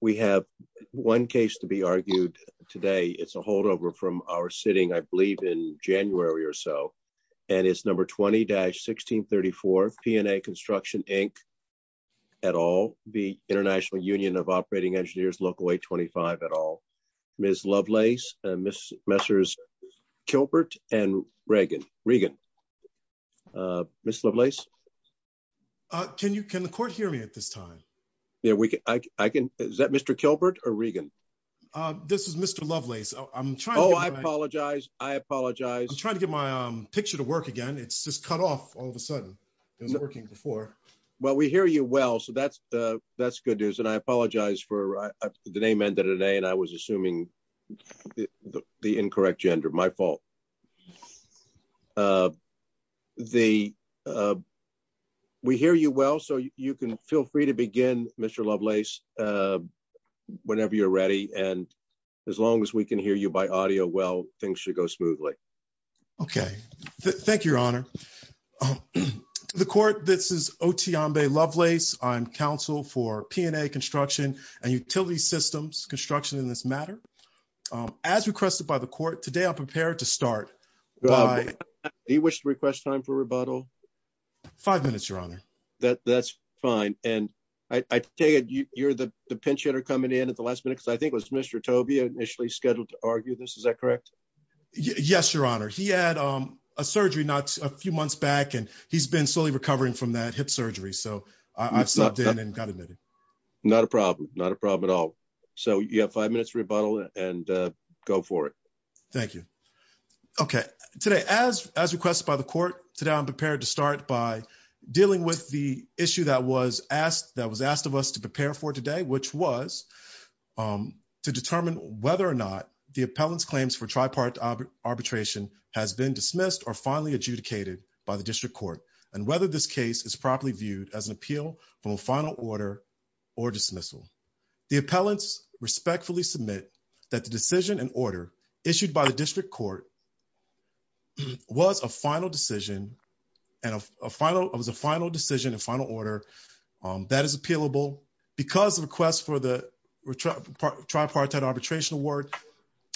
We have one case to be argued today. It's a holdover from our sitting, I believe in January or so, and it's number 20-1634 P&A Construction Inc. et al., the International Union of Operating Engineers, Local825 et al. Ms. Lovelace, Ms. Messers-Kilbert, and Reagan. Ms. Lovelace? Can the court hear me at this time? Yeah, I can. Is that Mr. Kilbert or Reagan? This is Mr. Lovelace. I'm trying to get my picture to work again. It's just cut off all of a sudden. It wasn't working before. Well, we hear you well, so that's good news, and I apologize for the name ended in A, and I was assuming the incorrect gender. My fault. Okay. We hear you well, so you can feel free to begin, Mr. Lovelace, whenever you're ready, and as long as we can hear you by audio well, things should go smoothly. Okay. Thank you, Your Honor. The court, this is Oteyambe Lovelace. I'm counsel for P&A Construction and Utility Systems Construction in this matter. As requested by the court, today I'm prepared to start. Do you wish to request time for rebuttal? Five minutes, Your Honor. That's fine, and I take it you're the pinch hitter coming in at the last minute, because I think it was Mr. Tobey initially scheduled to argue this. Is that correct? Yes, Your Honor. He had a surgery not a few months back, and he's been slowly recovering from that hip surgery, so I've stopped in and got admitted. Not a problem. Not a problem at all. So you have five minutes for rebuttal, and go for it. Thank you. Okay. Today, as requested by the court, today I'm prepared to start by dealing with the issue that was asked of us to prepare for today, which was to determine whether or not the appellant's claims for tripartite arbitration has been dismissed or finally adjudicated by the district court, and whether this case is properly viewed as an appeal from a final order or dismissal. The appellants respectfully submit that the opinion issued by the district court was a final decision and a final order that is appealable because the request for the tripartite arbitration award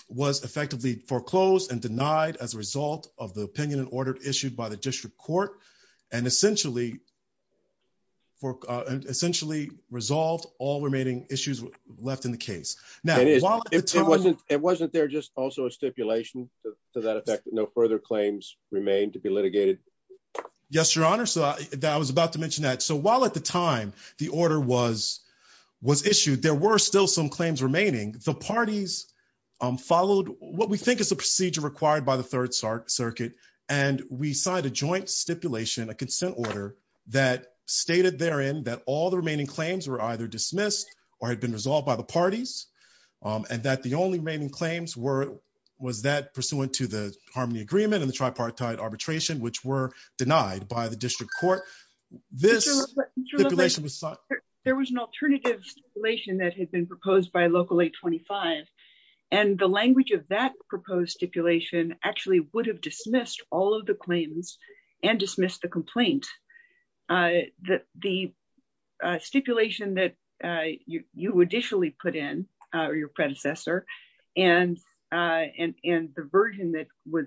was effectively foreclosed and denied as a result of the opinion and order issued by the district court and essentially resolved all remaining issues left in the case. Now, wasn't there just also a stipulation to that effect that no further claims remain to be litigated? Yes, your honor. So I was about to mention that. So while at the time the order was issued, there were still some claims remaining. The parties followed what we think is the procedure required by the third circuit, and we signed a joint stipulation, a consent order, that stated therein that all the remaining claims were either dismissed or had been resolved by the and that the only remaining claims were, was that pursuant to the Harmony Agreement and the tripartite arbitration, which were denied by the district court. This stipulation was signed. There was an alternative stipulation that had been proposed by Local 825, and the language of that proposed stipulation actually would have dismissed all of the claims and dismissed the complaint. The stipulation that you additionally put in, or your predecessor, and the version that was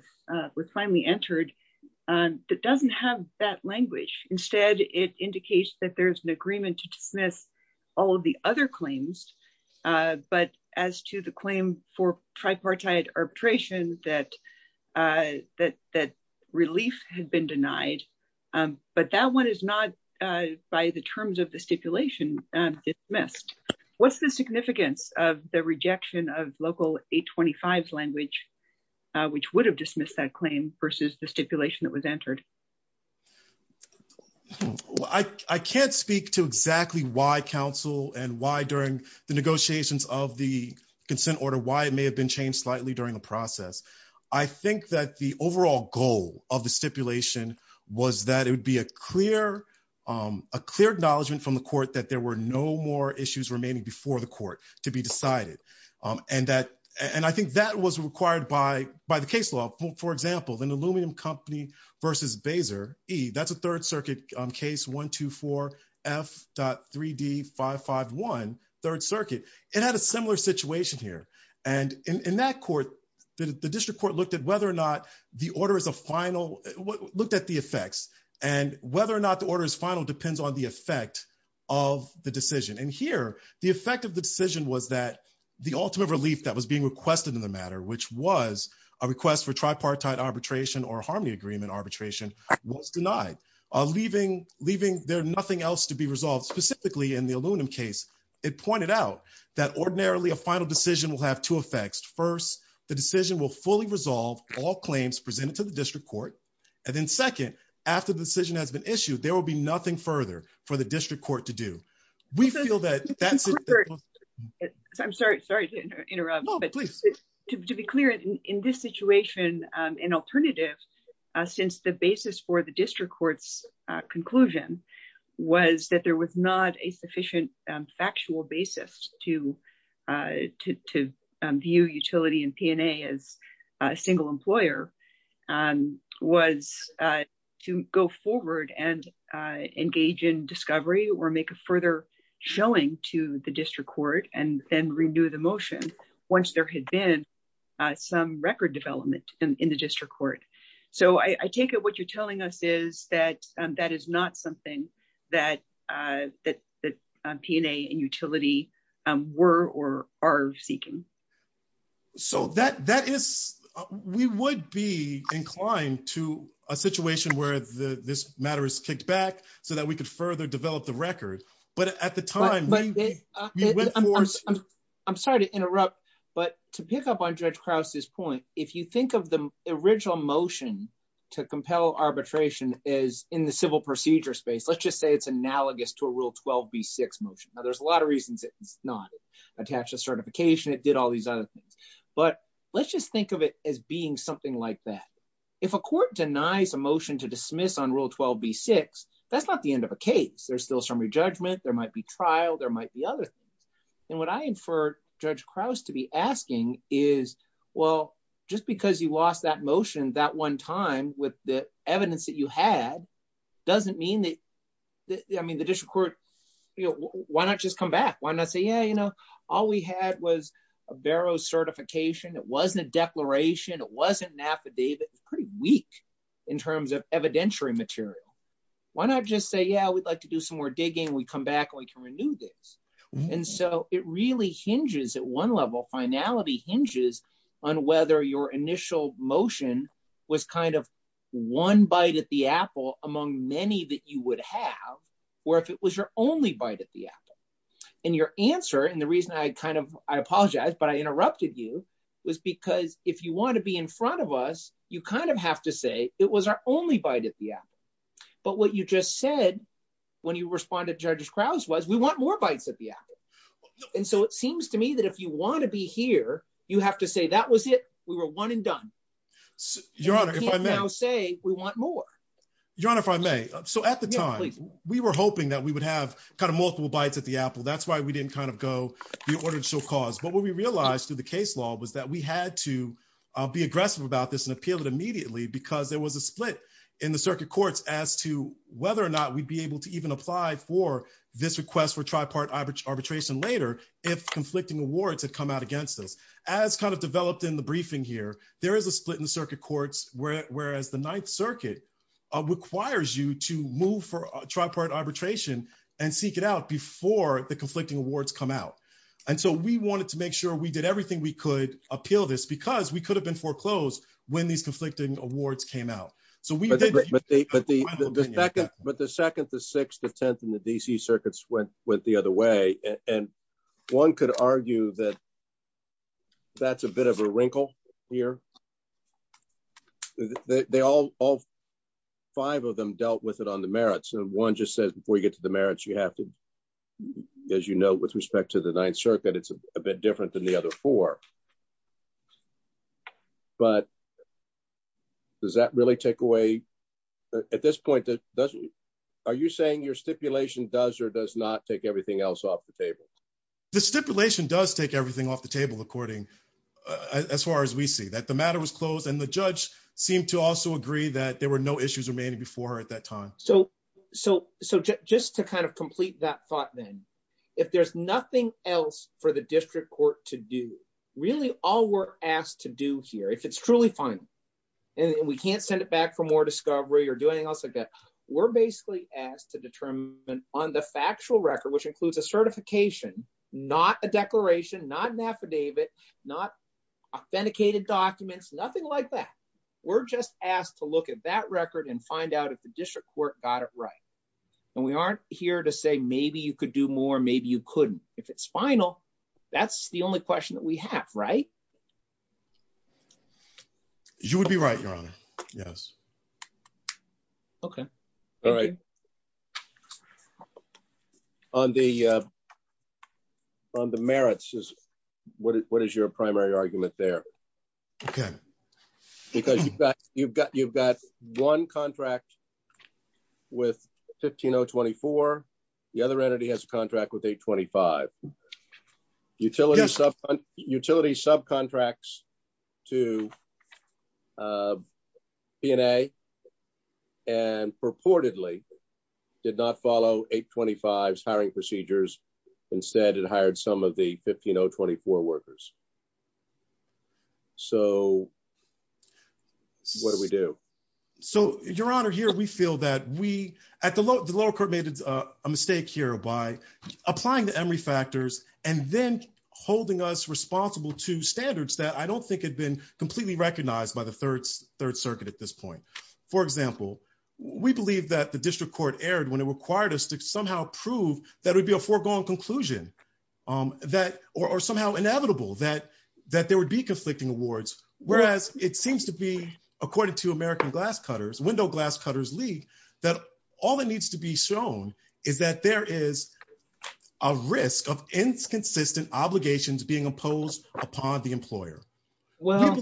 finally entered, that doesn't have that language. Instead, it indicates that there's an agreement to dismiss all of the other claims, but as to the claim for tripartite arbitration, that relief had been denied, but that one is not, by the terms of the stipulation, dismissed. What's the significance of the rejection of Local 825's language, which would have dismissed that claim, versus the stipulation that was entered? I can't speak to exactly why, counsel, and why during the negotiations of the process. I think that the overall goal of the stipulation was that it would be a clear acknowledgement from the court that there were no more issues remaining before the court to be decided. I think that was required by the case law. For example, an aluminum company versus Baeser, that's a Third Circuit case, 124F.3D551, Third Circuit. It had a similar situation here. In that court, the district court looked at the effects, and whether or not the order is final depends on the effect of the decision. Here, the effect of the decision was that the ultimate relief that was being requested in the matter, which was a request for tripartite arbitration or harmony agreement arbitration, was denied, leaving there nothing else to be resolved. Specifically, in the aluminum case, it pointed out that ordinarily a final decision will have two effects. First, the decision will fully resolve all claims presented to the district court, and then second, after the decision has been issued, there will be nothing further for the district court to do. We feel that that's... I'm sorry to interrupt, but to be clear, in this situation, an alternative, since the basis for district court's conclusion was that there was not a sufficient factual basis to view utility and P&A as a single employer, was to go forward and engage in discovery or make a further showing to the district court and then renew the motion once there had been some record development in district court. I take it what you're telling us is that that is not something that P&A and utility were or are seeking. We would be inclined to a situation where this matter is kicked back so that we could further develop the record, but at the time... I'm sorry to interrupt, but to pick up on Judge Krause's point, if you think of the original motion to compel arbitration as in the civil procedure space, let's just say it's analogous to a Rule 12b-6 motion. Now, there's a lot of reasons it's not. It attached a certification, it did all these other things, but let's just think of it as being something like that. If a court denies a motion to dismiss on Rule 12b-6, that's not the end of a case. There's still summary judgment, there might be trial, there might be other things, and what I inferred Judge Krause to be asking is, well, just because you lost that motion that one time with the evidence that you had, doesn't mean that... I mean, the district court, why not just come back? Why not say, yeah, all we had was a Barrow certification, it wasn't a declaration, it wasn't an affidavit, it's pretty weak in terms of evidentiary material. Why not just say, yeah, we'd like to do some more finality hinges on whether your initial motion was kind of one bite at the apple among many that you would have, or if it was your only bite at the apple. And your answer, and the reason I kind of, I apologize, but I interrupted you, was because if you want to be in front of us, you kind of have to say, it was our only bite at the apple. But what you just said when you respond to Judge Krause was, we want more bites at the apple. And so it seems to me that if you want to be here, you have to say that was it, we were one and done. And you can't now say, we want more. Your Honor, if I may. So at the time, we were hoping that we would have kind of multiple bites at the apple. That's why we didn't kind of go, the order shall cause. But what we realized through the case law was that we had to be aggressive about this and appeal it immediately because there was a split in the circuit courts as to whether or not we'd be able to even apply for this request for tripartite arbitration later if conflicting awards had come out against us. As kind of developed in the briefing here, there is a split in the circuit courts, whereas the Ninth Circuit requires you to move for tripartite arbitration and seek it out before the conflicting awards come out. And so we wanted to make sure we did everything we could appeal this because we could have been foreclosed when these conflicting awards came out. But the second, the sixth, the 10th, and the DC circuits went the other way. And one could argue that that's a bit of a wrinkle here. They all, five of them dealt with it on the merits. And one just said, before you get to the merits, you have to, as you know, with respect to the Ninth Circuit, it's a bit different than the other four. But does that really take away, at this point, are you saying your stipulation does or does not take everything else off the table? The stipulation does take everything off the table, according, as far as we see, that the matter was closed and the judge seemed to also agree that there were no issues remaining before her at that time. So just to kind of complete that thought then, if there's nothing else for the district court to do, really all we're asked to do here, if it's truly final and we can't send it back for more discovery or do anything else like that, we're basically asked to determine on the factual record, which includes a certification, not a declaration, not an affidavit, not authenticated documents, nothing like that. We're just asked to look at that record and find out if the district court got it right. And we aren't here to say maybe you could do more, maybe you couldn't. If it's final, that's the only question that we have, right? You would be right, Your Honor. Yes. Okay. All right. On the merits, what is your primary argument there? Okay. Because you've got one contract with 15024. The other entity has a contract with 825. Utility subcontracts to P&A and purportedly did not follow 825's hiring procedures. Instead, it hired some of the 15024 workers. So what do we do? So, Your Honor, here we feel that we, the lower court made a mistake here by applying the Emory factors and then holding us responsible to standards that I don't think had been completely recognized by the Third Circuit at this point. For example, we believe that the conclusion or somehow inevitable that there would be conflicting awards, whereas it seems to be, according to American Glass Cutters, Window Glass Cutters League, that all that needs to be shown is that there is a risk of inconsistent obligations being imposed upon the employer. Well,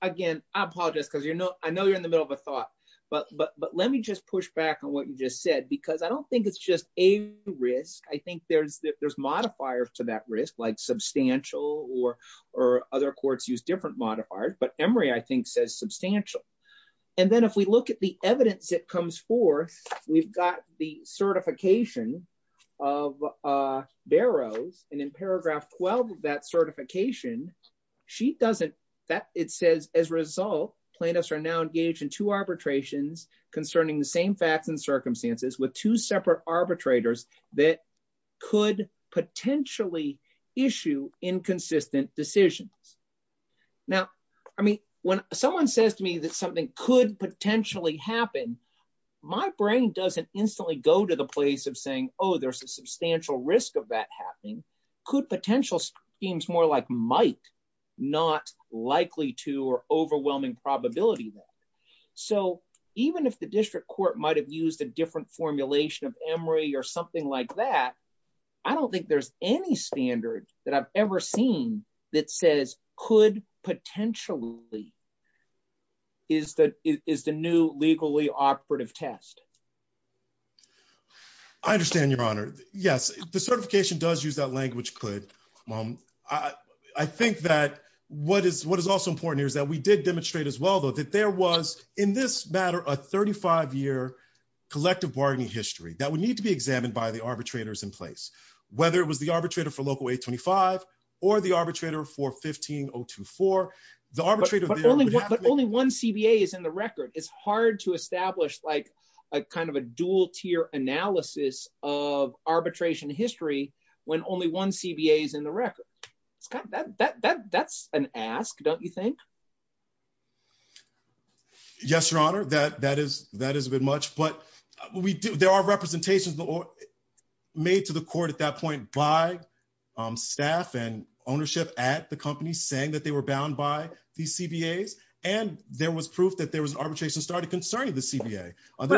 again, I apologize because I know you're in the middle of a thought, but let me just push back on what you just said because I don't think it's just a risk. I think there's modifiers to that risk, like substantial or other courts use different modifiers. But Emory, I think, says substantial. And then if we look at the evidence that comes forth, we've got the certification of Barrows. And in paragraph 12 of that certification, it says, as a result, plaintiffs are now engaged in two arbitrations concerning the same facts and circumstances with two separate arbitrators that could potentially issue inconsistent decisions. Now, I mean, when someone says to me that something could potentially happen, my brain doesn't instantly go to the place of saying, oh, there's a substantial risk of that possibility there. So even if the district court might have used a different formulation of Emory or something like that, I don't think there's any standard that I've ever seen that says could potentially is the new legally operative test. I understand, Your Honor. Yes, the certification does use that language, could. I think that what is also important here is that we did demonstrate as well, though, that there was, in this matter, a 35-year collective bargaining history that would need to be examined by the arbitrators in place, whether it was the arbitrator for Local 825 or the arbitrator for 15024. But only one CBA is in the record. It's hard to establish a dual-tier analysis of arbitration history when only one CBA is in the record. That's an ask, don't you think? Yes, Your Honor, that is a bit much. But there are representations made to the court at that point by staff and ownership at the company saying that they were bound by these CBAs, and there was proof that there was arbitration started concerning the CBA. Why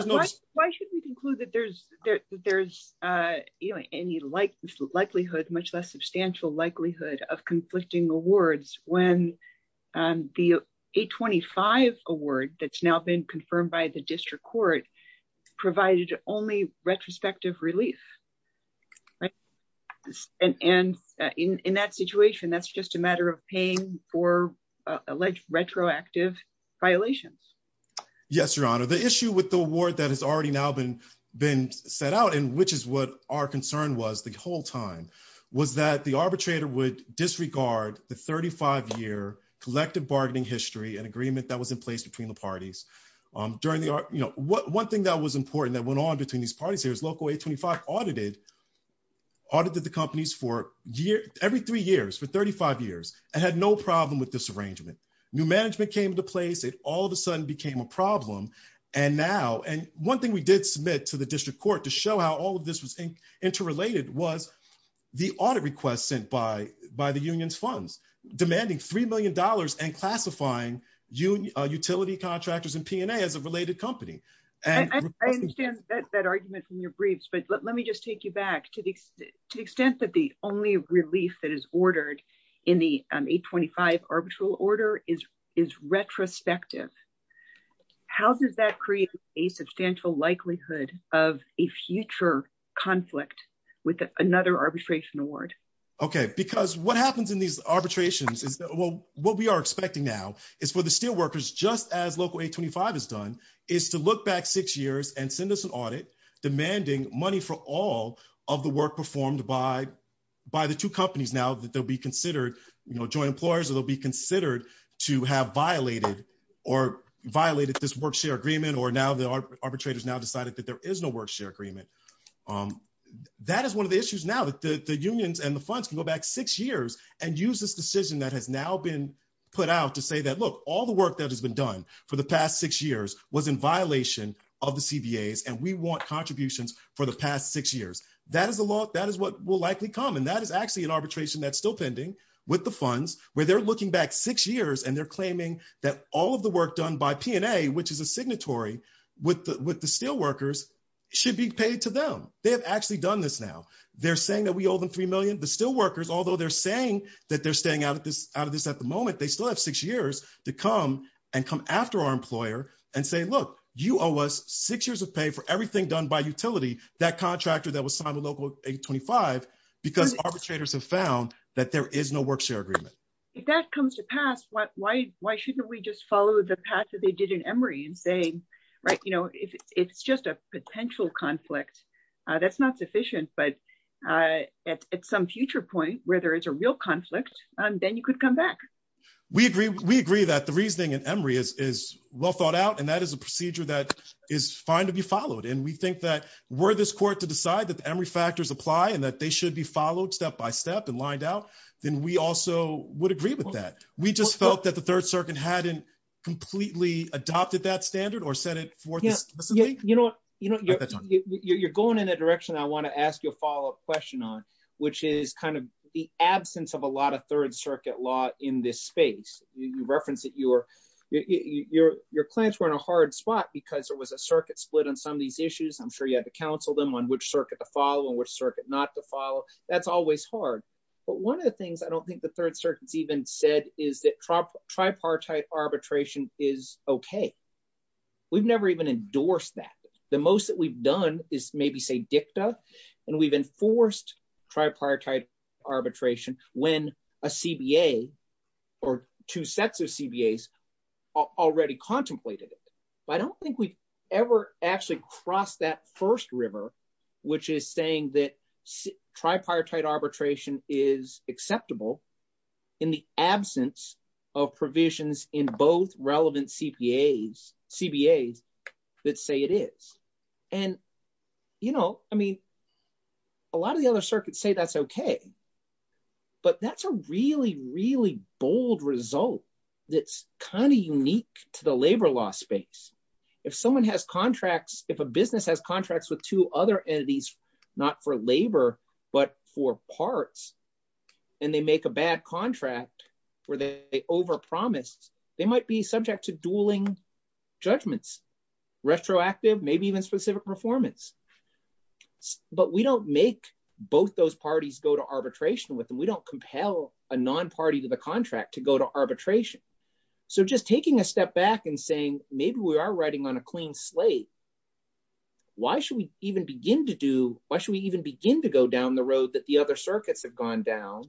should we conclude that there's any likelihood, much less substantial likelihood, of conflicting awards when the 825 award that's now been confirmed by the district court provided only retrospective relief? And in that situation, that's just a matter of paying for alleged retroactive violations. Yes, Your Honor. The issue with the award that has already now been set out, and which is what our concern was the whole time, was that the arbitrator would disregard the 35-year collective bargaining history and agreement that was in place between the parties. One thing that was important that went on between these parties here is Local 825 audited the companies for every three years, for 35 years, and had no problem with this arrangement. New management came into place. It all of a sudden became a problem. And now, and one thing we did submit to the district court to show how all of this was interrelated was the audit request sent by the union's funds demanding $3 million and classifying utility contractors and P&A as a related company. I understand that argument from your briefs, but let me just take you back to the extent that the only relief that is ordered in the 825 arbitral order is retrospective. How does that create a substantial likelihood of a future conflict with another arbitration award? Okay, because what happens in these arbitrations is well, what we are expecting now is for the steel workers, just as Local 825 has done, is to look back six years and send us an audit demanding money for all of the work performed by the two companies now that they'll be considered, you know, joint employers, or they'll be considered to have violated or violated this work-share agreement, or now the arbitrators now decided that there is no work-share agreement. That is one of the issues now that the unions and the funds can go back six years and use this decision that has now been put out to say that, look, all the work that has been done for the arbitration was in violation of the CBAs, and we want contributions for the past six years. That is what will likely come, and that is actually an arbitration that's still pending with the funds, where they're looking back six years, and they're claiming that all of the work done by P&A, which is a signatory with the steel workers, should be paid to them. They have actually done this now. They're saying that we owe them $3 million. The steel workers, although they're saying that they're staying out of this at the moment, they still have six years to come and say, look, you owe us six years of pay for everything done by utility, that contractor that was signed with Local 825, because arbitrators have found that there is no work-share agreement. If that comes to pass, why shouldn't we just follow the path that they did in Emory in saying, right, you know, it's just a potential conflict. That's not sufficient, but at some future point where there is a real conflict, then you could come back. We agree that the reasoning in Emory is well thought out, and that is a procedure that is fine to be followed, and we think that were this court to decide that the Emory factors apply and that they should be followed step by step and lined out, then we also would agree with that. We just felt that the Third Circuit hadn't completely adopted that standard or set it forth explicitly. You know, you're going in a direction I want to ask you a follow-up question on, which is kind of the absence of a lot of Third Circuit law in this space. You reference that your clients were in a hard spot because there was a circuit split on some of these issues. I'm sure you had to counsel them on which circuit to follow and which circuit not to follow. That's always hard, but one of the things I don't think the Third Circuit's even said is that tripartite arbitration is okay. We've never even endorsed that. The most that we've done is maybe say dicta, and we've enforced tripartite arbitration when a CBA or two sets of CBAs already contemplated it. I don't think we've ever actually crossed that first river, which is saying that tripartite arbitration is acceptable in the absence of provisions in both relevant CBAs that say it is. A lot of the other circuits say that's okay, but that's a really, really bold result that's kind of unique to the labor law space. If someone has contracts, if a business has contracts with two other entities, not for labor, but for parts, and they make a bad contract where they overpromise, they might be subject to dueling judgments, retroactive, maybe even specific performance, but we don't make both those parties go to arbitration with them. We don't compel a non-party to the contract to go to arbitration, so just taking a step back and saying maybe we are riding on a clean slate, why should we even begin to go down the road that the other circuits have gone down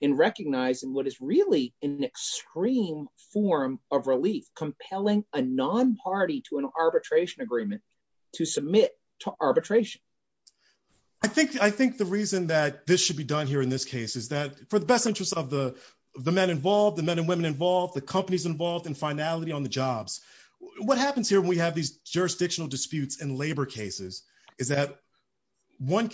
in recognizing what is really an extreme form of relief, compelling a non-party to an arbitration agreement to submit to arbitration? I think the reason that this should be done here in this case is that for the best interests of the men involved, the men and women involved, the companies involved in finality on the jobs, what happens here when we have these jurisdictional disputes in labor cases is that one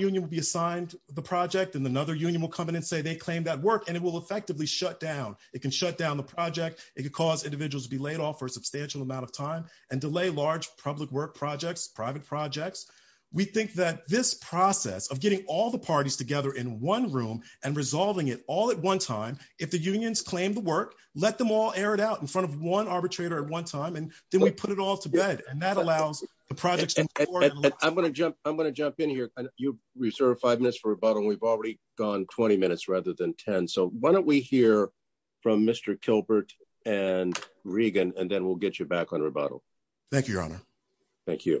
union will be assigned the project, and another union will come in and say they claim that work, and it will effectively shut down. It can shut down the project. It could cause individuals to be laid off for a substantial amount of time and delay large public work projects, private projects. We think that this process of getting all the parties together in one room and resolving it all at one time, if the unions claim the work, let them all air it out in front of one arbitrator at one time, and then we put it all to bed, and that allows the projects. I'm going to jump in here. You reserved five minutes for rebuttal. We've already gone 20 minutes rather than 10, so why don't we hear from Mr. Kilbert and Regan, and then we'll get you back on rebuttal. Thank you, Your Honor. Thank you.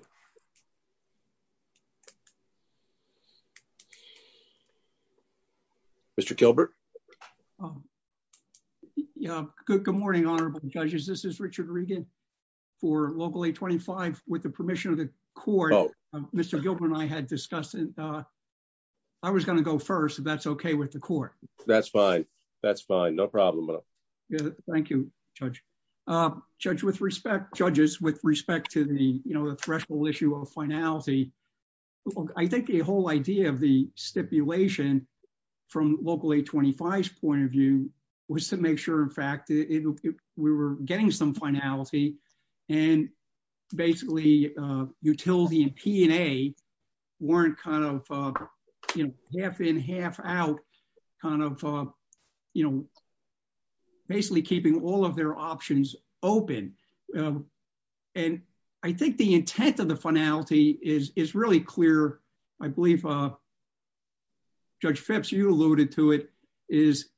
Mr. Kilbert. Good morning, Honorable Judges. This is Richard Regan for Local 825. With the permission of the Court, Mr. Gilbert and I had discussed, I was going to go first, if that's okay with the Court. That's fine. That's fine. No problem. Thank you, Judge. Judges, with respect to the threshold issue of finality, I think the whole idea of the stipulation from Local 825's point of view was to make sure, in fact, that we were getting some finality, and basically, utility and P&A weren't half in, half out, basically keeping all of their options open. I think the intent of the finality is really clear. I believe Judge Phipps, you alluded to it, is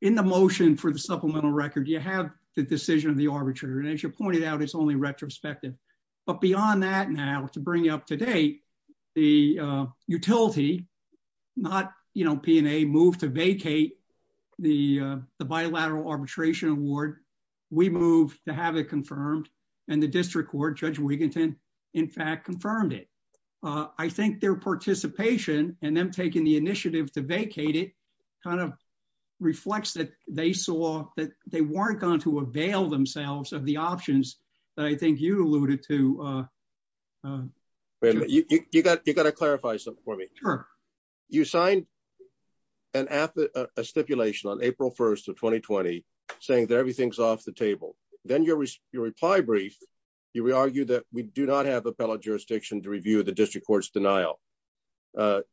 in the motion for the supplemental record, you have the decision of the arbitrator, and as you pointed out, it's only retrospective. But beyond that now, to bring you up to date, the utility, not P&A, moved to vacate the bilateral arbitration award. We moved to have it confirmed, and the District Court, Judge Wiginton, in fact, confirmed it. I think their participation, and them taking the initiative to vacate it, kind of reflects that they saw that they weren't going to avail themselves of the options that I think you alluded to. You got to clarify something for me. You signed a stipulation on April 1st of 2020 saying that everything's off the table. Then your reply brief, you argue that we do not have appellate jurisdiction to review the District Court's denial.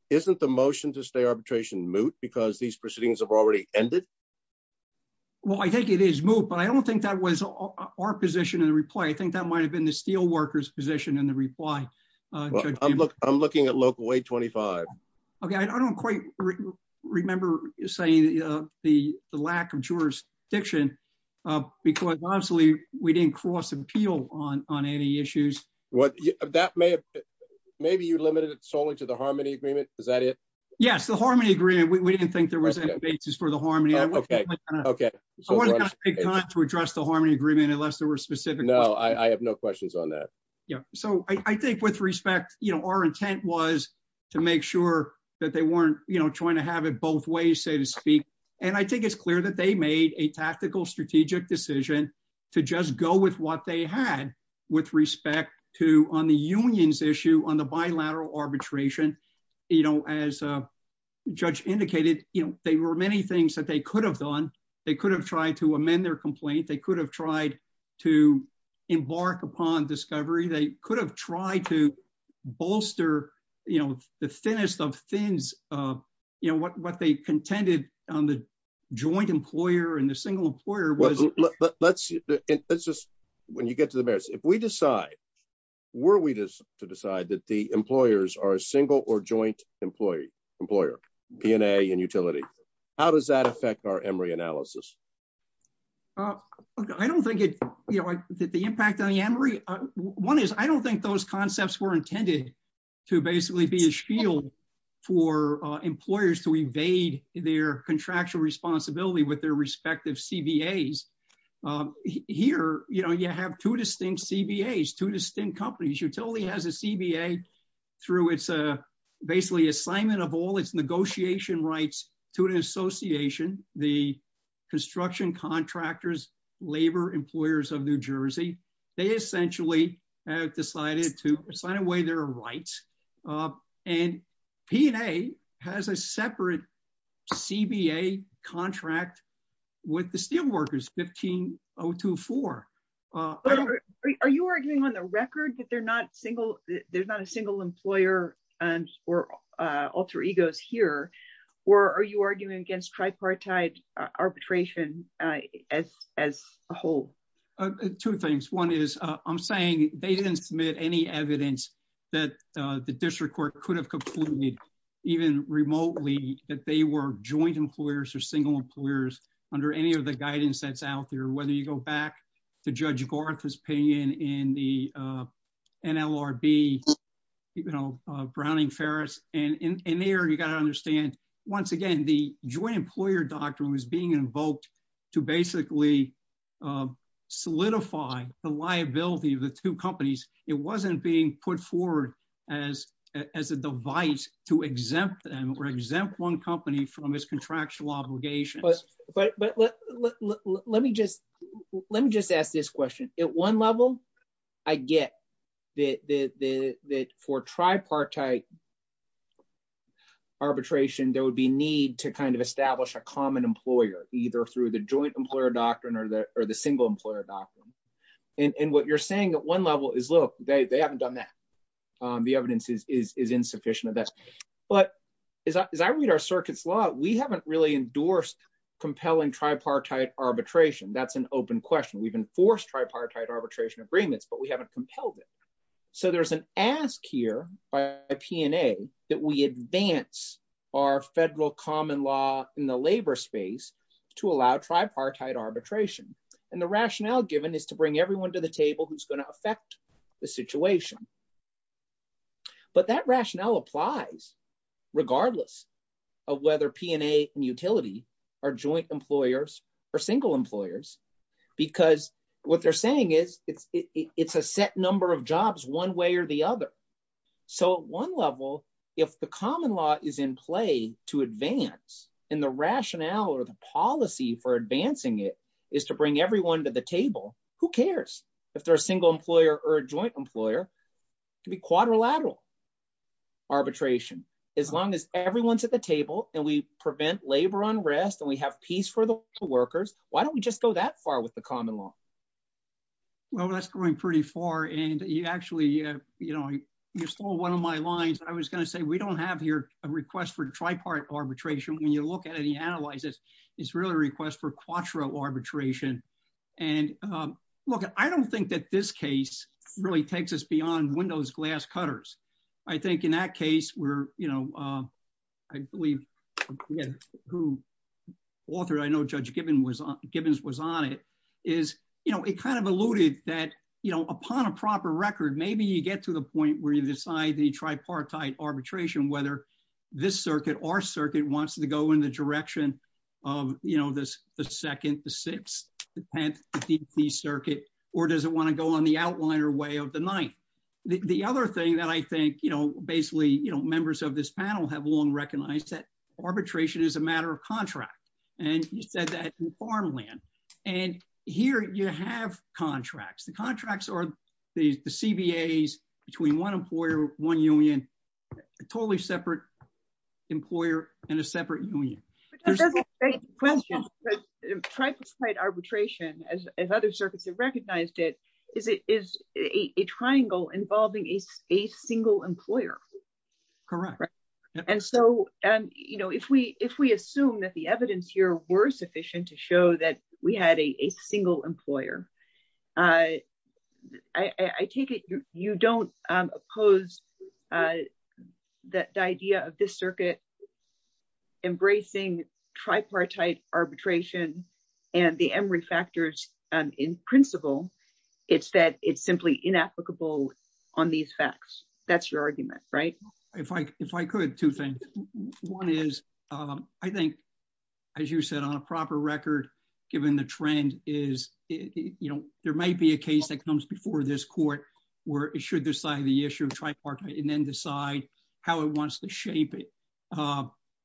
Isn't the motion to stay arbitration moot because these proceedings have already ended? Well, I think it is moot, but I don't think that was our position in the reply. I think that might have been the Steelworkers' position in the reply. I'm looking at local 25. Okay, I don't quite remember saying the lack of jurisdiction because, obviously, we didn't cross-appeal on any issues. Maybe you limited it solely to the Harmony Agreement. Is that it? Yes, the Harmony Agreement. We didn't think there was any basis for the Harmony. Okay, okay. I wasn't going to take time to address the Harmony Agreement unless there were specific... No, I have no questions on that. Yeah, so I think with respect, our intent was to make sure that they weren't trying to have it both ways, so to speak. I think it's clear that they made a tactical strategic decision to just go with what they had with respect to on the union's issue on the bilateral arbitration. As a judge indicated, there were many things that they could have done. They could have tried to amend their complaint. They could have tried to embark upon discovery. They could have tried to bolster the thinnest of thins, what they contended on the joint employer and the single employer. When you get to the merits, if we decide, were we to decide that the employers are a single or joint employer, P&A and utility, how does that affect our Emory analysis? I don't think it... The impact on the Emory... One is, I don't think those concepts were intended to basically be a shield for employers to evade their contractual responsibility with their respective CBAs. Here, you have two distinct CBAs, two distinct companies. Utility has a CBA through it's basically assignment of all its negotiation rights to an association, the construction contractors, labor employers of New Jersey. They essentially have decided to sign away their rights. P&A has a separate CBA contract with the steel workers, 15024. Are you arguing on the record that there's not a single employer or alter egos here, or are you arguing against tripartite arbitration as a whole? Two things. One is, I'm saying they didn't submit any evidence that the district court could have concluded, even remotely, that they were joint employers or single employers under any of the guidance that's out there, whether you go back to Judge Gorth's opinion in the NLRB, Browning-Ferris. In there, you got to understand, once again, the joint employer doctrine was being invoked to basically solidify the liability of the two companies. It wasn't being put forward as a device to exempt them or exempt one company from its contractual obligations. Let me just ask this question. At one level, I get that for tripartite arbitration, there would be need to establish a common employer, either through the joint employer doctrine or the single employer doctrine. What you're saying at one level is, look, they haven't done that. The evidence is insufficient of that. As I read our circuit's law, we haven't really endorsed compelling tripartite arbitration. That's an open question. We've enforced tripartite arbitration agreements, but we haven't compelled it. There's an ask here by P&A that we advance our federal common law in the labor space to allow tripartite arbitration. The rationale given is to bring everyone to the table who's going to affect the situation. But that rationale applies regardless of whether P&A and utility are joint employers or single employers, because what they're saying is it's a set number of jobs one way or the other. At one level, if the common law is in play to advance and the rationale or the policy for a joint employer to be quadrilateral arbitration, as long as everyone's at the table and we prevent labor unrest and we have peace for the workers, why don't we just go that far with the common law? Well, that's going pretty far. You stole one of my lines. I was going to say, we don't have here a request for tripartite arbitration. When you look at it and analyze it, it's really a request for quattro arbitration. And look, I don't think that this case really takes us beyond windows, glass cutters. I think in that case where I believe who authored, I know Judge Gibbons was on it, is it kind of alluded that upon a proper record, maybe you get to the point where you decide the tripartite arbitration, whether this circuit or in the direction of the second, the sixth, the 10th, the DC circuit, or does it want to go on the outliner way of the ninth? The other thing that I think, basically, members of this panel have long recognized that arbitration is a matter of contract. And you said that in farmland. And here you have contracts. The contracts are the CBAs between one employer, one union, a totally separate employer, and a separate union. But that doesn't question tripartite arbitration, as other circuits have recognized it, is a triangle involving a single employer. Correct. And so if we assume that the evidence here were sufficient to show that we had a single employer, I take it you don't oppose the idea of this circuit embracing tripartite arbitration and the Emory factors in principle. It's that it's simply inapplicable on these facts. That's your argument, right? If I could, two things. One is, I think, as you said, on a proper record, given the trend is, you know, there might be a case that comes before this court, where it should decide the issue of tripartite and then decide how it wants to shape it.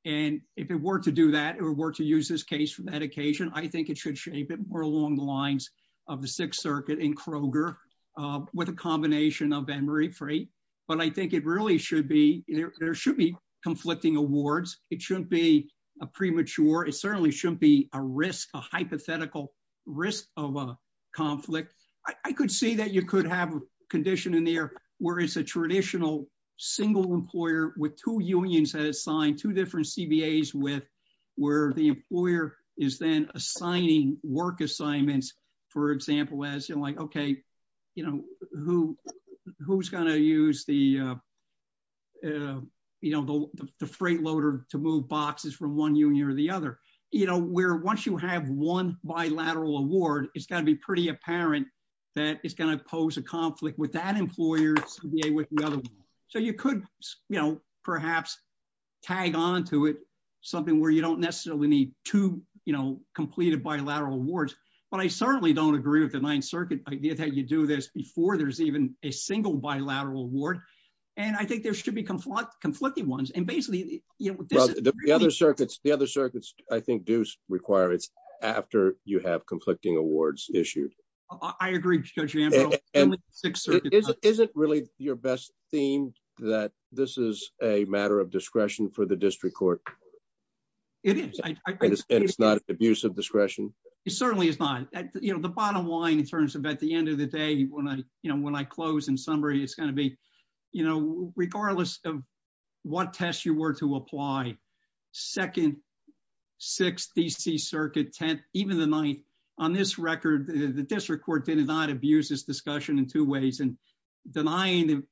And if it were to do that, or were to use this case for that occasion, I think it should shape it more along the lines of the Sixth Circuit in Kroger, with a combination of Emory Freight. But I think it really should be, there should be conflicting awards, it shouldn't be a premature, it certainly shouldn't be a risk, a hypothetical risk of conflict. I could see that you could have a condition in there, where it's a traditional single employer with two unions has signed two different CBAs with where the employer is then assigning work assignments, for example, as you're like, okay, you know, who, who's going to use the, you know, the freight loader to move boxes from one union or the other, you know, where once you have one bilateral award, it's got to be pretty apparent that it's going to pose a conflict with that employer's CBA with the other one. So you could, you know, perhaps tag on to it, something where you don't necessarily need two, you know, completed bilateral awards. But I certainly don't agree with the Ninth Circuit idea that you do this before there's even a single bilateral award. And I think there should be conflict, conflicting ones. And basically, you know, the other circuits, the other circuits, I think, do require it's after you have conflicting awards issued. I agree. Isn't really your best theme that this is a matter of discretion for the district court? It is. It's not an abuse of discretion. It certainly is not, you know, the bottom line, in terms of at the end of the day, when I, you know, when I close in summary, it's going to be, you know, regardless of what test you were to apply, Second, Sixth, DC Circuit, Tenth, even the Ninth, on this record, the district court did not abuse this discussion in two ways and denying,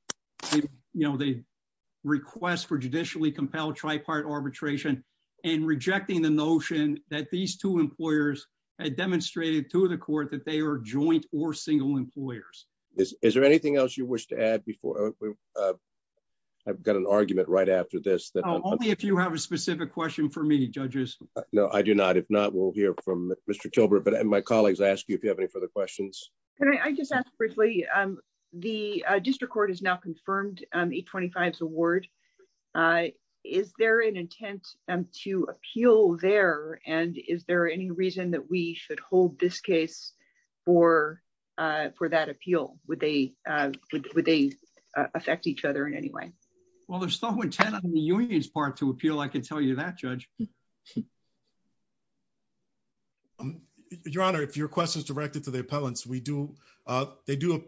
you know, the request for judicially compelled tripartite arbitration, and rejecting the notion that these two employers had demonstrated to the court that they are joint or single employers. Is there anything else you wish to add before? I've got an argument right after this. Only if you have a specific question for me, judges. No, I do not. If not, we'll hear from Mr. Chilbert. But my colleagues ask you if you have any further questions. Can I just ask briefly, the district court has now confirmed the 25th award. Is there an intent to appeal there? And is there any reason that we should hold this case for that appeal? Would they affect each other in any way? Well, there's no intent on the union's part to appeal, I can tell you that, Judge. Your Honor, if your question is directed to the appellants, we do, they do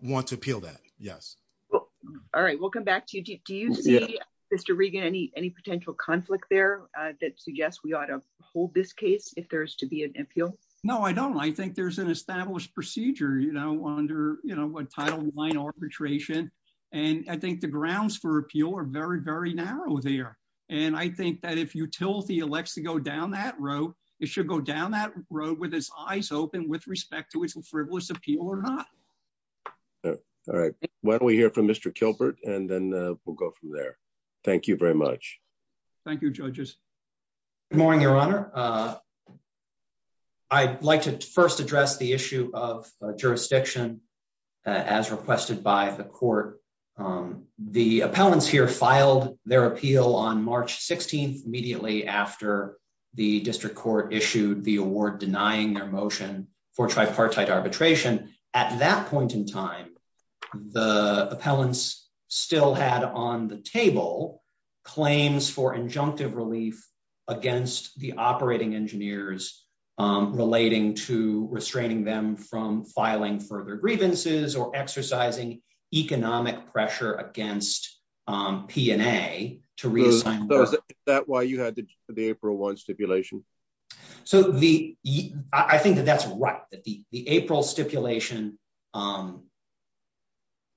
want to appeal that. Yes. All right, we'll come back to you. Do you see, Mr. Regan, any potential conflict there that suggests we ought to hold this case if there is to be an appeal? No, I don't. I think there's an established procedure, you know, under, you know, what Title IX arbitration. And I think the grounds for appeal are very, very narrow there. And I think that if utility elects to go down that road, it should go down that road with its eyes open with respect to its frivolous appeal or not. All right. Why don't we hear from Mr. Chilbert, and then we'll go from there. Thank you very much. Thank you, Judges. Good morning, Your Honor. I'd like to first address the issue of jurisdiction as requested by the Court. The appellants here filed their appeal on March 16th, immediately after the District Court issued the award denying their motion for tripartite arbitration. At that point in time, the relief against the operating engineers relating to restraining them from filing further grievances or exercising economic pressure against P&A to reassign. So, is that why you had the April 1 stipulation? So, I think that that's right. The April stipulation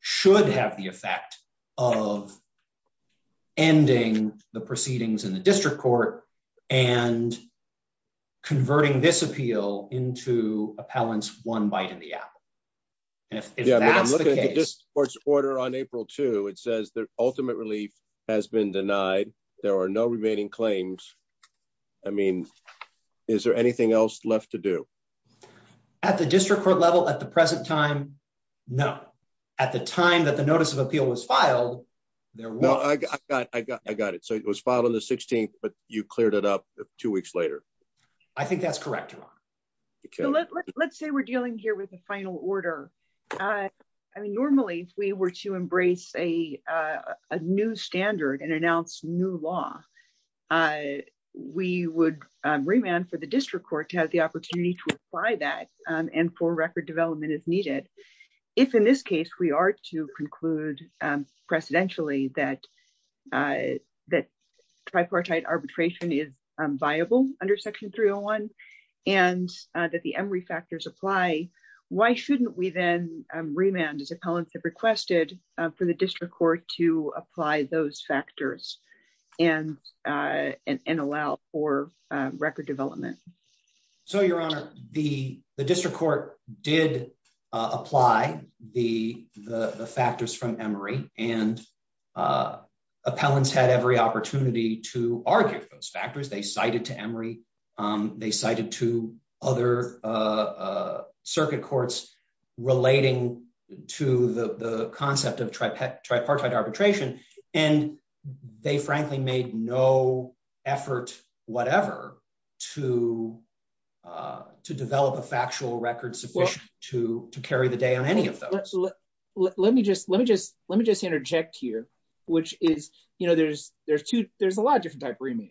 should have the effect of ending the proceedings in the District Court and converting this appeal into appellants one bite in the apple. And if that's the case... Yeah, but I'm looking at the District Court's order on April 2. It says the ultimate relief has been denied. There are no remaining claims. I mean, is there anything else left to do? At the District Court level at the present time, no. At the time that the notice of appeal was I got it. So, it was filed on the 16th, but you cleared it up two weeks later. I think that's correct, Your Honor. Let's say we're dealing here with a final order. I mean, normally, if we were to embrace a new standard and announce new law, we would remand for the District Court to have the opportunity to apply that and for record development as needed. If in this case, we are to conclude precedentially that tripartite arbitration is viable under Section 301 and that the Emory factors apply, why shouldn't we then remand as appellants have requested for the District Court to apply those factors and allow for record development? So, Your Honor, the District Court did apply the factors from Emory and appellants had every opportunity to argue for those factors. They cited to Emory, they cited to other circuit courts relating to the concept of tripartite arbitration, and they frankly made no effort whatever to develop a factual record sufficient to carry the day on any of those. Let me just interject here, which is, you know, there's a lot of different type remands,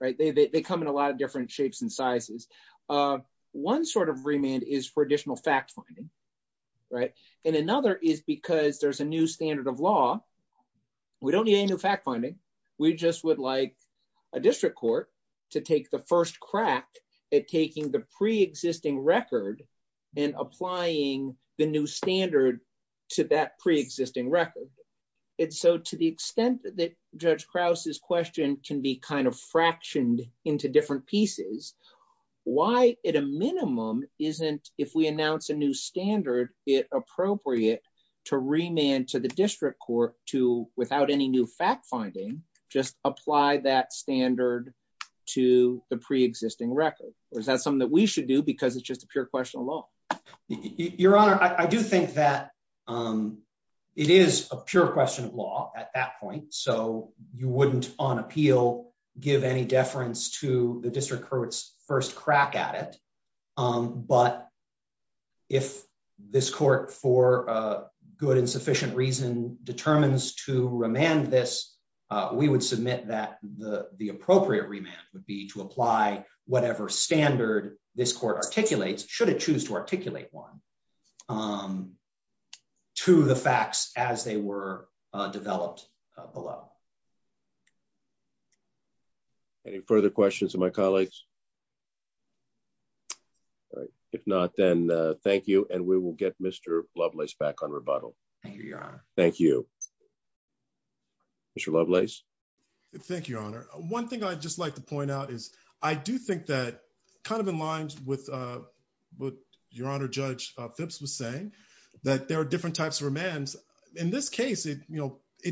right? They come in a lot of different shapes and sizes. One sort of remand is for additional fact-finding, right? And another is because there's a new standard of law. We don't need any new fact-finding. We just would like a District Court to take the first crack at taking the pre-existing record and applying the new standard to that pre-existing record. And so to the extent that Judge Krause's question can be kind of fractioned into different pieces, why at a minimum isn't if we announce a new standard, it appropriate to remand to the District Court to, without any new fact-finding, just apply that standard to the pre-existing record? Or is that something that we should do because it's just a pure question of law? Your Honor, I do think that it is a pure question of law at that point. So you wouldn't, on appeal, give any deference to the District Court's first crack at it. But if this Court, for a good and sufficient reason, determines to remand this, we would submit that the appropriate remand would be to apply whatever standard this Court articulates, should it choose to articulate one, to the facts as they were developed below. Any further questions of my colleagues? All right. If not, then thank you. And we will get Mr. Lovelace back on rebuttal. Thank you, Your Honor. Thank you. Mr. Lovelace? Thank you, Your Honor. One thing I'd just like to point out is I do think that, kind of in line with what Your Honor, Judge Phipps was saying, that there are different types of remands. In this case, it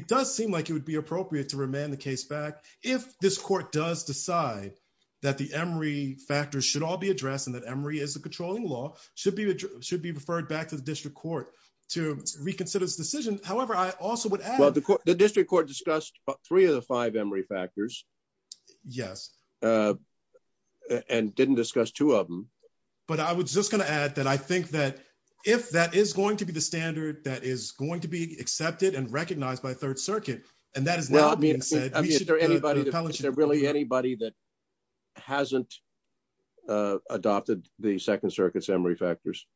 does seem like it would be appropriate to remand the case back if this Court does decide that the Emory factors should all be addressed and that Emory is the controlling law, should be referred back to the District Court to reconsider this decision. However, I also would add— Well, the District Court discussed three of the five Emory factors. Yes. And didn't discuss two of them. But I was just going to add that I think that if that is going to be the standard that is going to be accepted and recognized by Third Circuit, and that is now being said— Well, I mean, is there anybody that hasn't adopted the Second Circuit's Emory factors?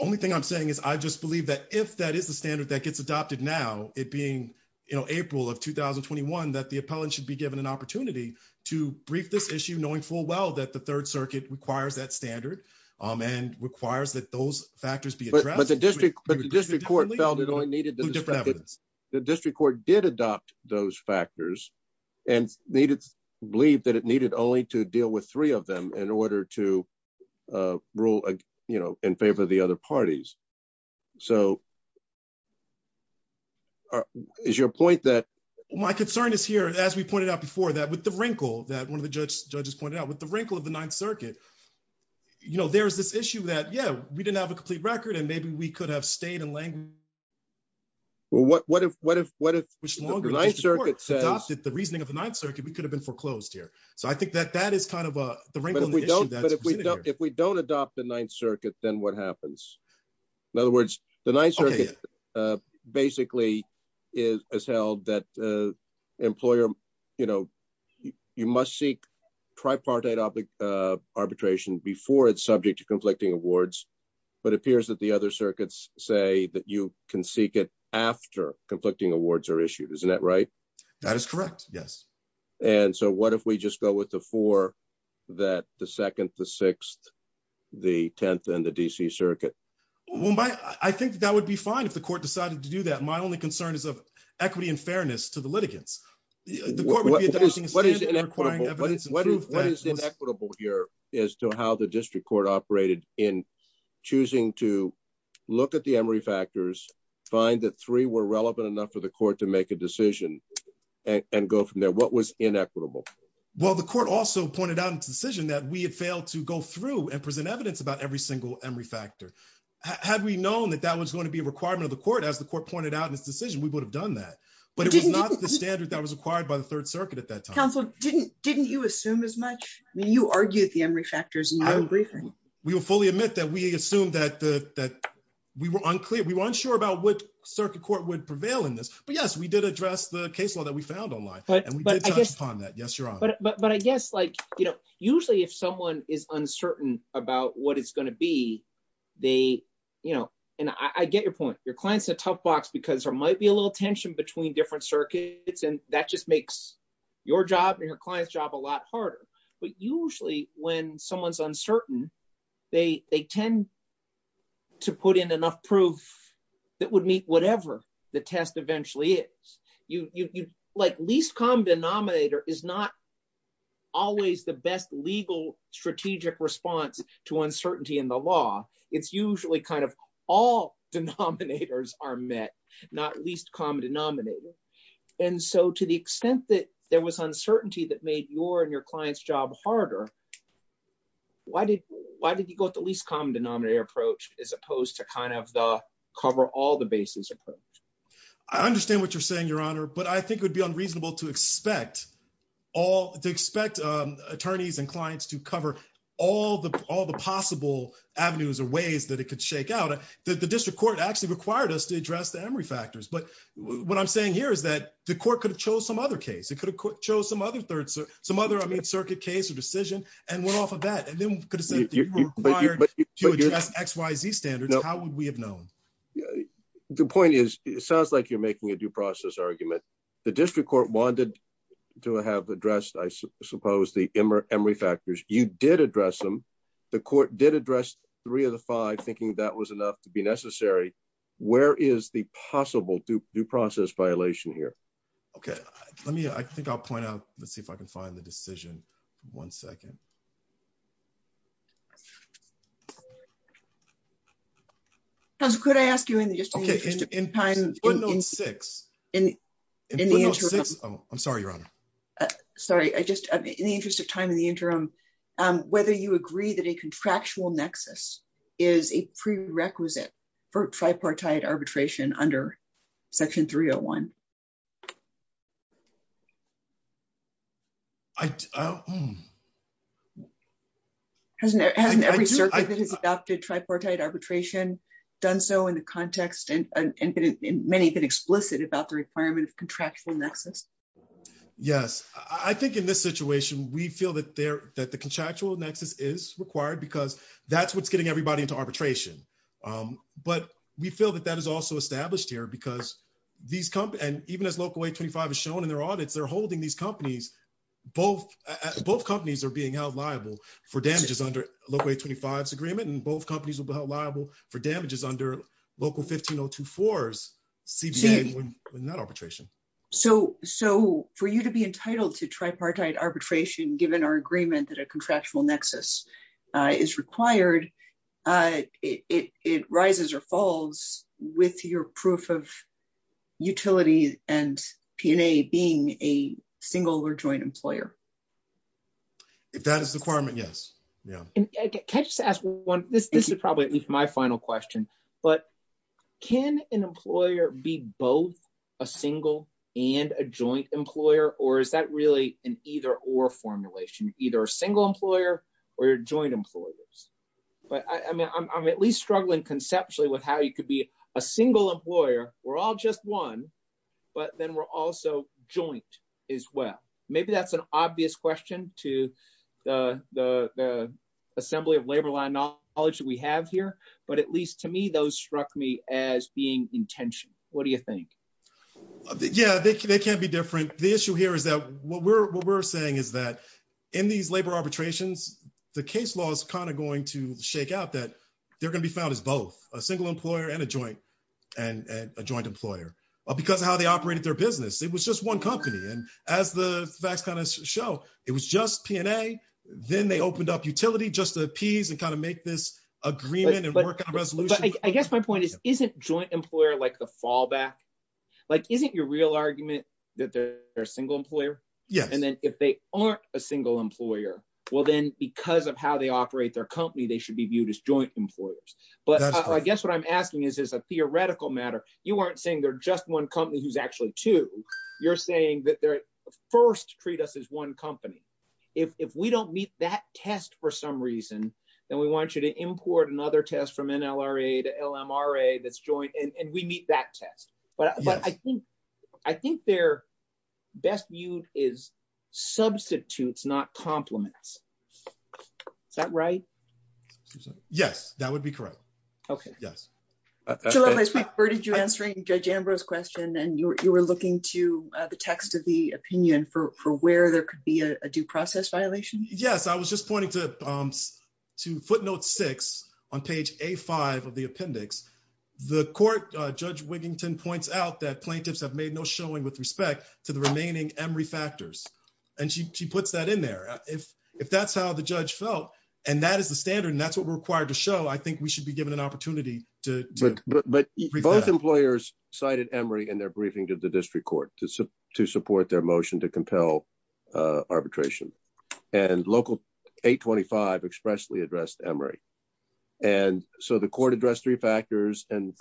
Only thing I'm saying is I just believe that if that is the standard that gets adopted now, it being, you know, April of 2021, that the appellant should be given an opportunity to brief this issue, knowing full well that the Third Circuit requires that standard and requires that those factors be addressed— But the District Court felt it only needed to discredit— The District Court did adopt those factors and believed that it needed only to deal with three of them in order to rule, you know, in favor of the other parties. So is your point that— My concern is here, as we pointed out before, that with the wrinkle that one of the judges pointed out, with the wrinkle of the Ninth Circuit, you know, there's this issue that, yeah, we didn't have a complete record, and maybe we could have stayed in language— Well, what if the Ninth Circuit adopted the reasoning of the Ninth Circuit, we could have been foreclosed here. So I think that that is kind of the wrinkle in the issue— But if we don't adopt the Ninth Circuit, then what happens? In other words, the Ninth Circuit basically has held that, you know, you must seek tripartite arbitration before it's subject to conflicting awards, but it appears that the other circuits say that you can seek it after conflicting awards are issued. Isn't that right? That is correct, yes. And so what if we just go with the four, that the Second, the Sixth, the Tenth, and the D.C. Circuit? Well, I think that would be fine if the court decided to do that. My only concern is of equity and fairness to the litigants. The court would be adopting a standard requiring evidence— What is inequitable here as to how the district court operated in choosing to look at the Emory factors, find that three were relevant enough for the court to make a decision, and go from there? What was inequitable? Well, the court also pointed out in its decision that we had failed to go through and present evidence about every single Emory factor. Had we known that that was going to be a requirement of the court, as the court pointed out in its decision, we would have done that. But it was not the standard that was acquired by the Third Circuit at that time. Counsel, didn't you assume as much? I mean, you argued the Emory factors in your own briefing. We will fully admit that we assumed that we were unclear. We weren't sure about what Circuit Court would prevail in this. But yes, we did address the case law that we found online, and we did touch upon that. Yes, Your Honor. But I guess usually if someone is uncertain about what it's going to be, and I get your point. Your client's in a tough box because there might be a little tension between different circuits, and that just makes your job and your client's job a lot harder. But usually when someone's uncertain, they tend to put in enough proof that would meet whatever the test always the best legal strategic response to uncertainty in the law. It's usually kind of all denominators are met, not least common denominator. And so to the extent that there was uncertainty that made your and your client's job harder, why did you go with the least common denominator approach as opposed to kind of the cover all the bases approach? I understand what you're saying, but I think it would be unreasonable to expect attorneys and clients to cover all the possible avenues or ways that it could shake out. The district court actually required us to address the Emory factors. But what I'm saying here is that the court could have chose some other case. It could have chose some other circuit case or decision and went off of that and then could have said that you were required to address X, Y, Z standards. How would we have known? Yeah, the point is, it sounds like you're making a due process argument. The district court wanted to have addressed, I suppose, the Emory factors. You did address them. The court did address three of the five thinking that was enough to be necessary. Where is the possible due process violation here? Okay, let me I think I'll point out. Let's see if I can find the decision. One second. Counsel, could I ask you in the interest of time? I'm sorry, Your Honor. Sorry, I just in the interest of time in the interim, whether you agree that a contractual nexus is a prerequisite for tripartite arbitration under section 301? Hasn't every circuit that has adopted tripartite arbitration done so in the context and many have been explicit about the requirement of contractual nexus? Yes, I think in this situation, we feel that the contractual nexus is required because that's what's getting everybody into arbitration. But we feel that that is also established here because these companies and even as Local 825 is shown in their audits, they're holding these companies. Both companies are being held liable for damages under Local 825's agreement and both companies will be held liable for damages under Local 15024's CBA when not arbitration. So for you to be entitled to tripartite arbitration given our agreement that a contractual nexus is required, it rises or falls with your proof of utility and P&A being a single or joint employer? If that is the requirement, yes. Can I just ask one? This is probably at least my final question, but can an employer be both a single and a joint employer or is that really an either or formulation? Either a single employer or your joint employers? But I mean, I'm at least struggling conceptually with how you could be a single employer. We're all just one, but then we're also joint as well. Maybe that's an obvious question to the assembly of labor line knowledge that we have here, but at least to me, those struck me as being intention. What do you think? Yeah, they can't be different. The issue here is that what we're saying is that in these labor arbitrations, the case law is kind of going to and a joint employer because of how they operated their business. It was just one company. And as the facts kind of show, it was just P&A. Then they opened up utility just to appease and kind of make this agreement and work out a resolution. But I guess my point is, isn't joint employer like the fallback? Like, isn't your real argument that they're a single employer? Yes. And then if they aren't a single employer, well, then because of how they operate their company, they should be a single employer. But what I'm asking is, is a theoretical matter. You weren't saying they're just one company who's actually two. You're saying that they're first treat us as one company. If we don't meet that test for some reason, then we want you to import another test from NLRA to LMRA that's joint and we meet that test. But I think they're best viewed as substitutes, not compliments. Is that right? Yes, that would be correct. Okay. Yes. So last week, where did you answering Judge Ambrose's question and you were looking to the text of the opinion for where there could be a due process violation? Yes. I was just pointing to footnote six on page A5 of the appendix. The court, Judge Wiggington points out that plaintiffs have made no showing with respect to the remaining Emory factors. And she puts that in there. If that's how the judge felt, and that is the standard and that's what we're required to show, I think we should be given an opportunity to- But both employers cited Emory in their briefing to the district court to support their motion to compel arbitration. And local 825 expressly addressed Emory. And so the court addressed three factors and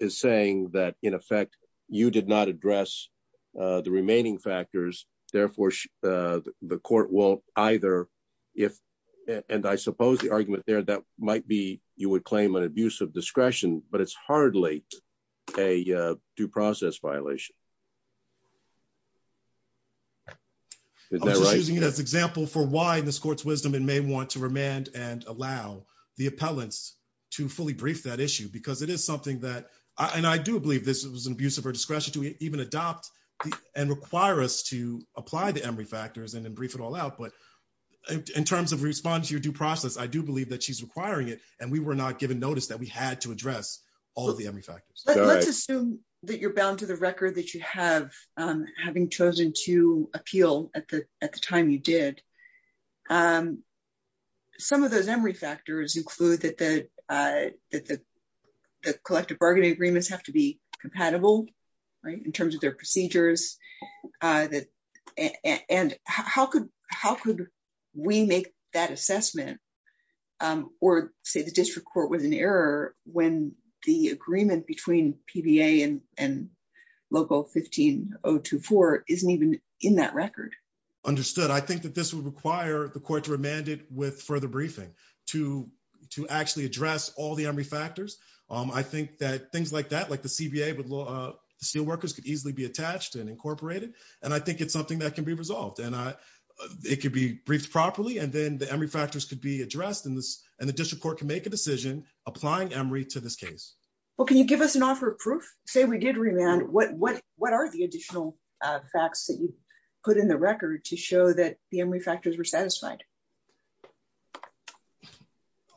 is saying that in effect, you did not address the remaining factors. Therefore, the court will either, if, and I suppose the argument there that might be, you would claim an abuse of discretion, but it's hardly a due process violation. I'm just using it as an example for why in this court's wisdom, it may want to remand and allow the appellants to fully brief that issue because it is something that, and I do believe this was an abuse of her discretion to even adopt and require us to apply the Emory factors and then brief it all out. But in terms of responding to your due process, I do believe that she's requiring it and we were not given notice that we had to address all of the Emory factors. Let's assume that you're bound to the record that you have, having chosen to appeal at the time you did. Some of those Emory factors include that the collective bargaining agreements have to be compatible in terms of their procedures. And how could we make that assessment or say the district court was in error when the agreement between PBA and local 15024 isn't even in that record? Understood. I think that this would require the court to remand it with further briefing to actually address all the Emory factors. I think that things like that, like the CBA with the steel workers could easily be attached and incorporated. And I think it's something that addressed and the district court can make a decision applying Emory to this case. Well, can you give us an offer of proof? Say we did remand, what are the additional facts that you put in the record to show that the Emory factors were satisfied?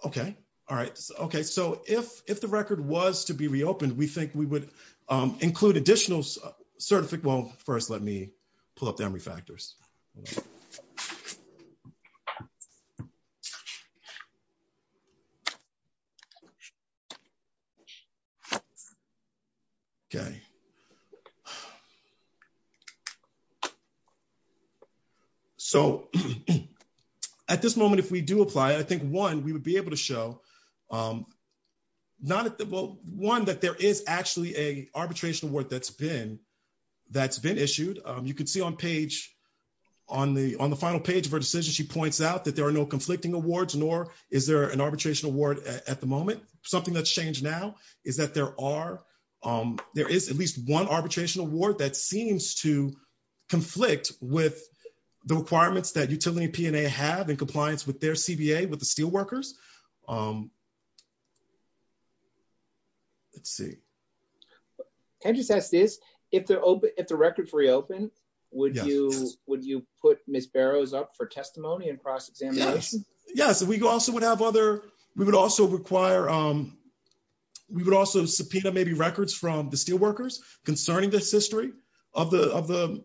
Okay. All right. Okay. So if the record was to be reopened, we think we would include additional certificate. Well, first, let me pull up the Emory factors. Okay. So at this moment, if we do apply, I think one, we would be able to show one, that there is actually a arbitration award that's been issued. You can see on the final page of her decision, she points out that there are no conflicting awards, nor is there an arbitration award at the moment. Something that's changed now is that there is at least one arbitration award that seems to conflict with the requirements that utility P&A have in compliance with their CBA, with the steel workers. Let's see. Can I just ask this? If the record is reopened, would you put Ms. Barrows up for testimony and cross-examination? Yes. We would also subpoena maybe records from the steel workers concerning this history of the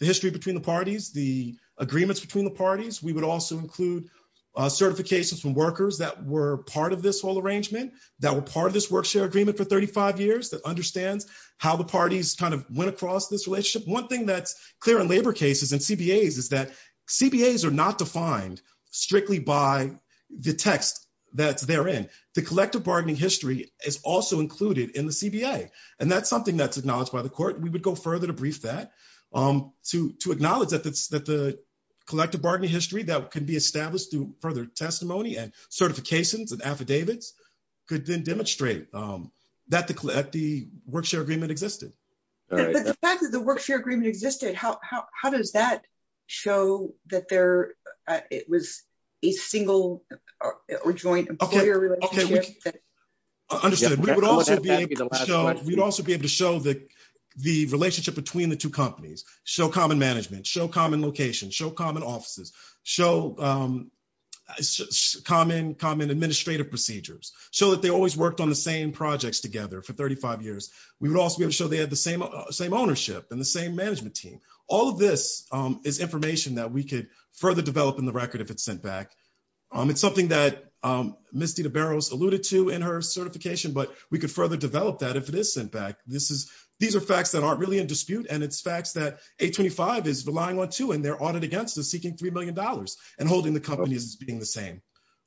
history between the parties, the agreements between the parties. We would also include certifications from workers that were part of this whole arrangement, that were part of this agreement for 35 years, that understands how the parties went across this relationship. One thing that's clear in labor cases and CBAs is that CBAs are not defined strictly by the text that's therein. The collective bargaining history is also included in the CBA, and that's something that's acknowledged by the court. We would go further to brief that to acknowledge that the collective bargaining history that can be established through further testimony and certifications and affidavits could then demonstrate that the work-share agreement existed. The fact that the work-share agreement existed, how does that show that it was a single or joint employer relationship? Understood. We would also be able to show the relationship between the two companies, show common management, show common locations, show common offices, show common administrative procedures, show that they always worked on the same projects together for 35 years. We would also be able to show they had the same ownership and the same management team. All of this is information that we could further develop in the record if it's sent back. It's something that Ms. DiDiBaro alluded to in her certification, but we could further develop that if it is sent back. These are facts that aren't really in dispute, and it's facts that 825 is relying on too. Their audit against is seeking $3 million and holding the companies as being the same.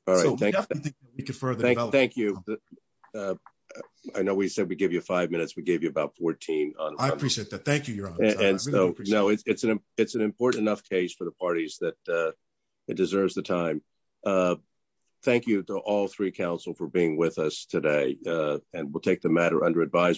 We definitely think we could further develop that. Thank you. I know we said we'd give you five minutes. We gave you about 14. I appreciate that. Thank you, Your Honor. It's an important enough case for the parties that it deserves the time. Thank you to all three counsel for being with us today. We'll take the matter under advisement.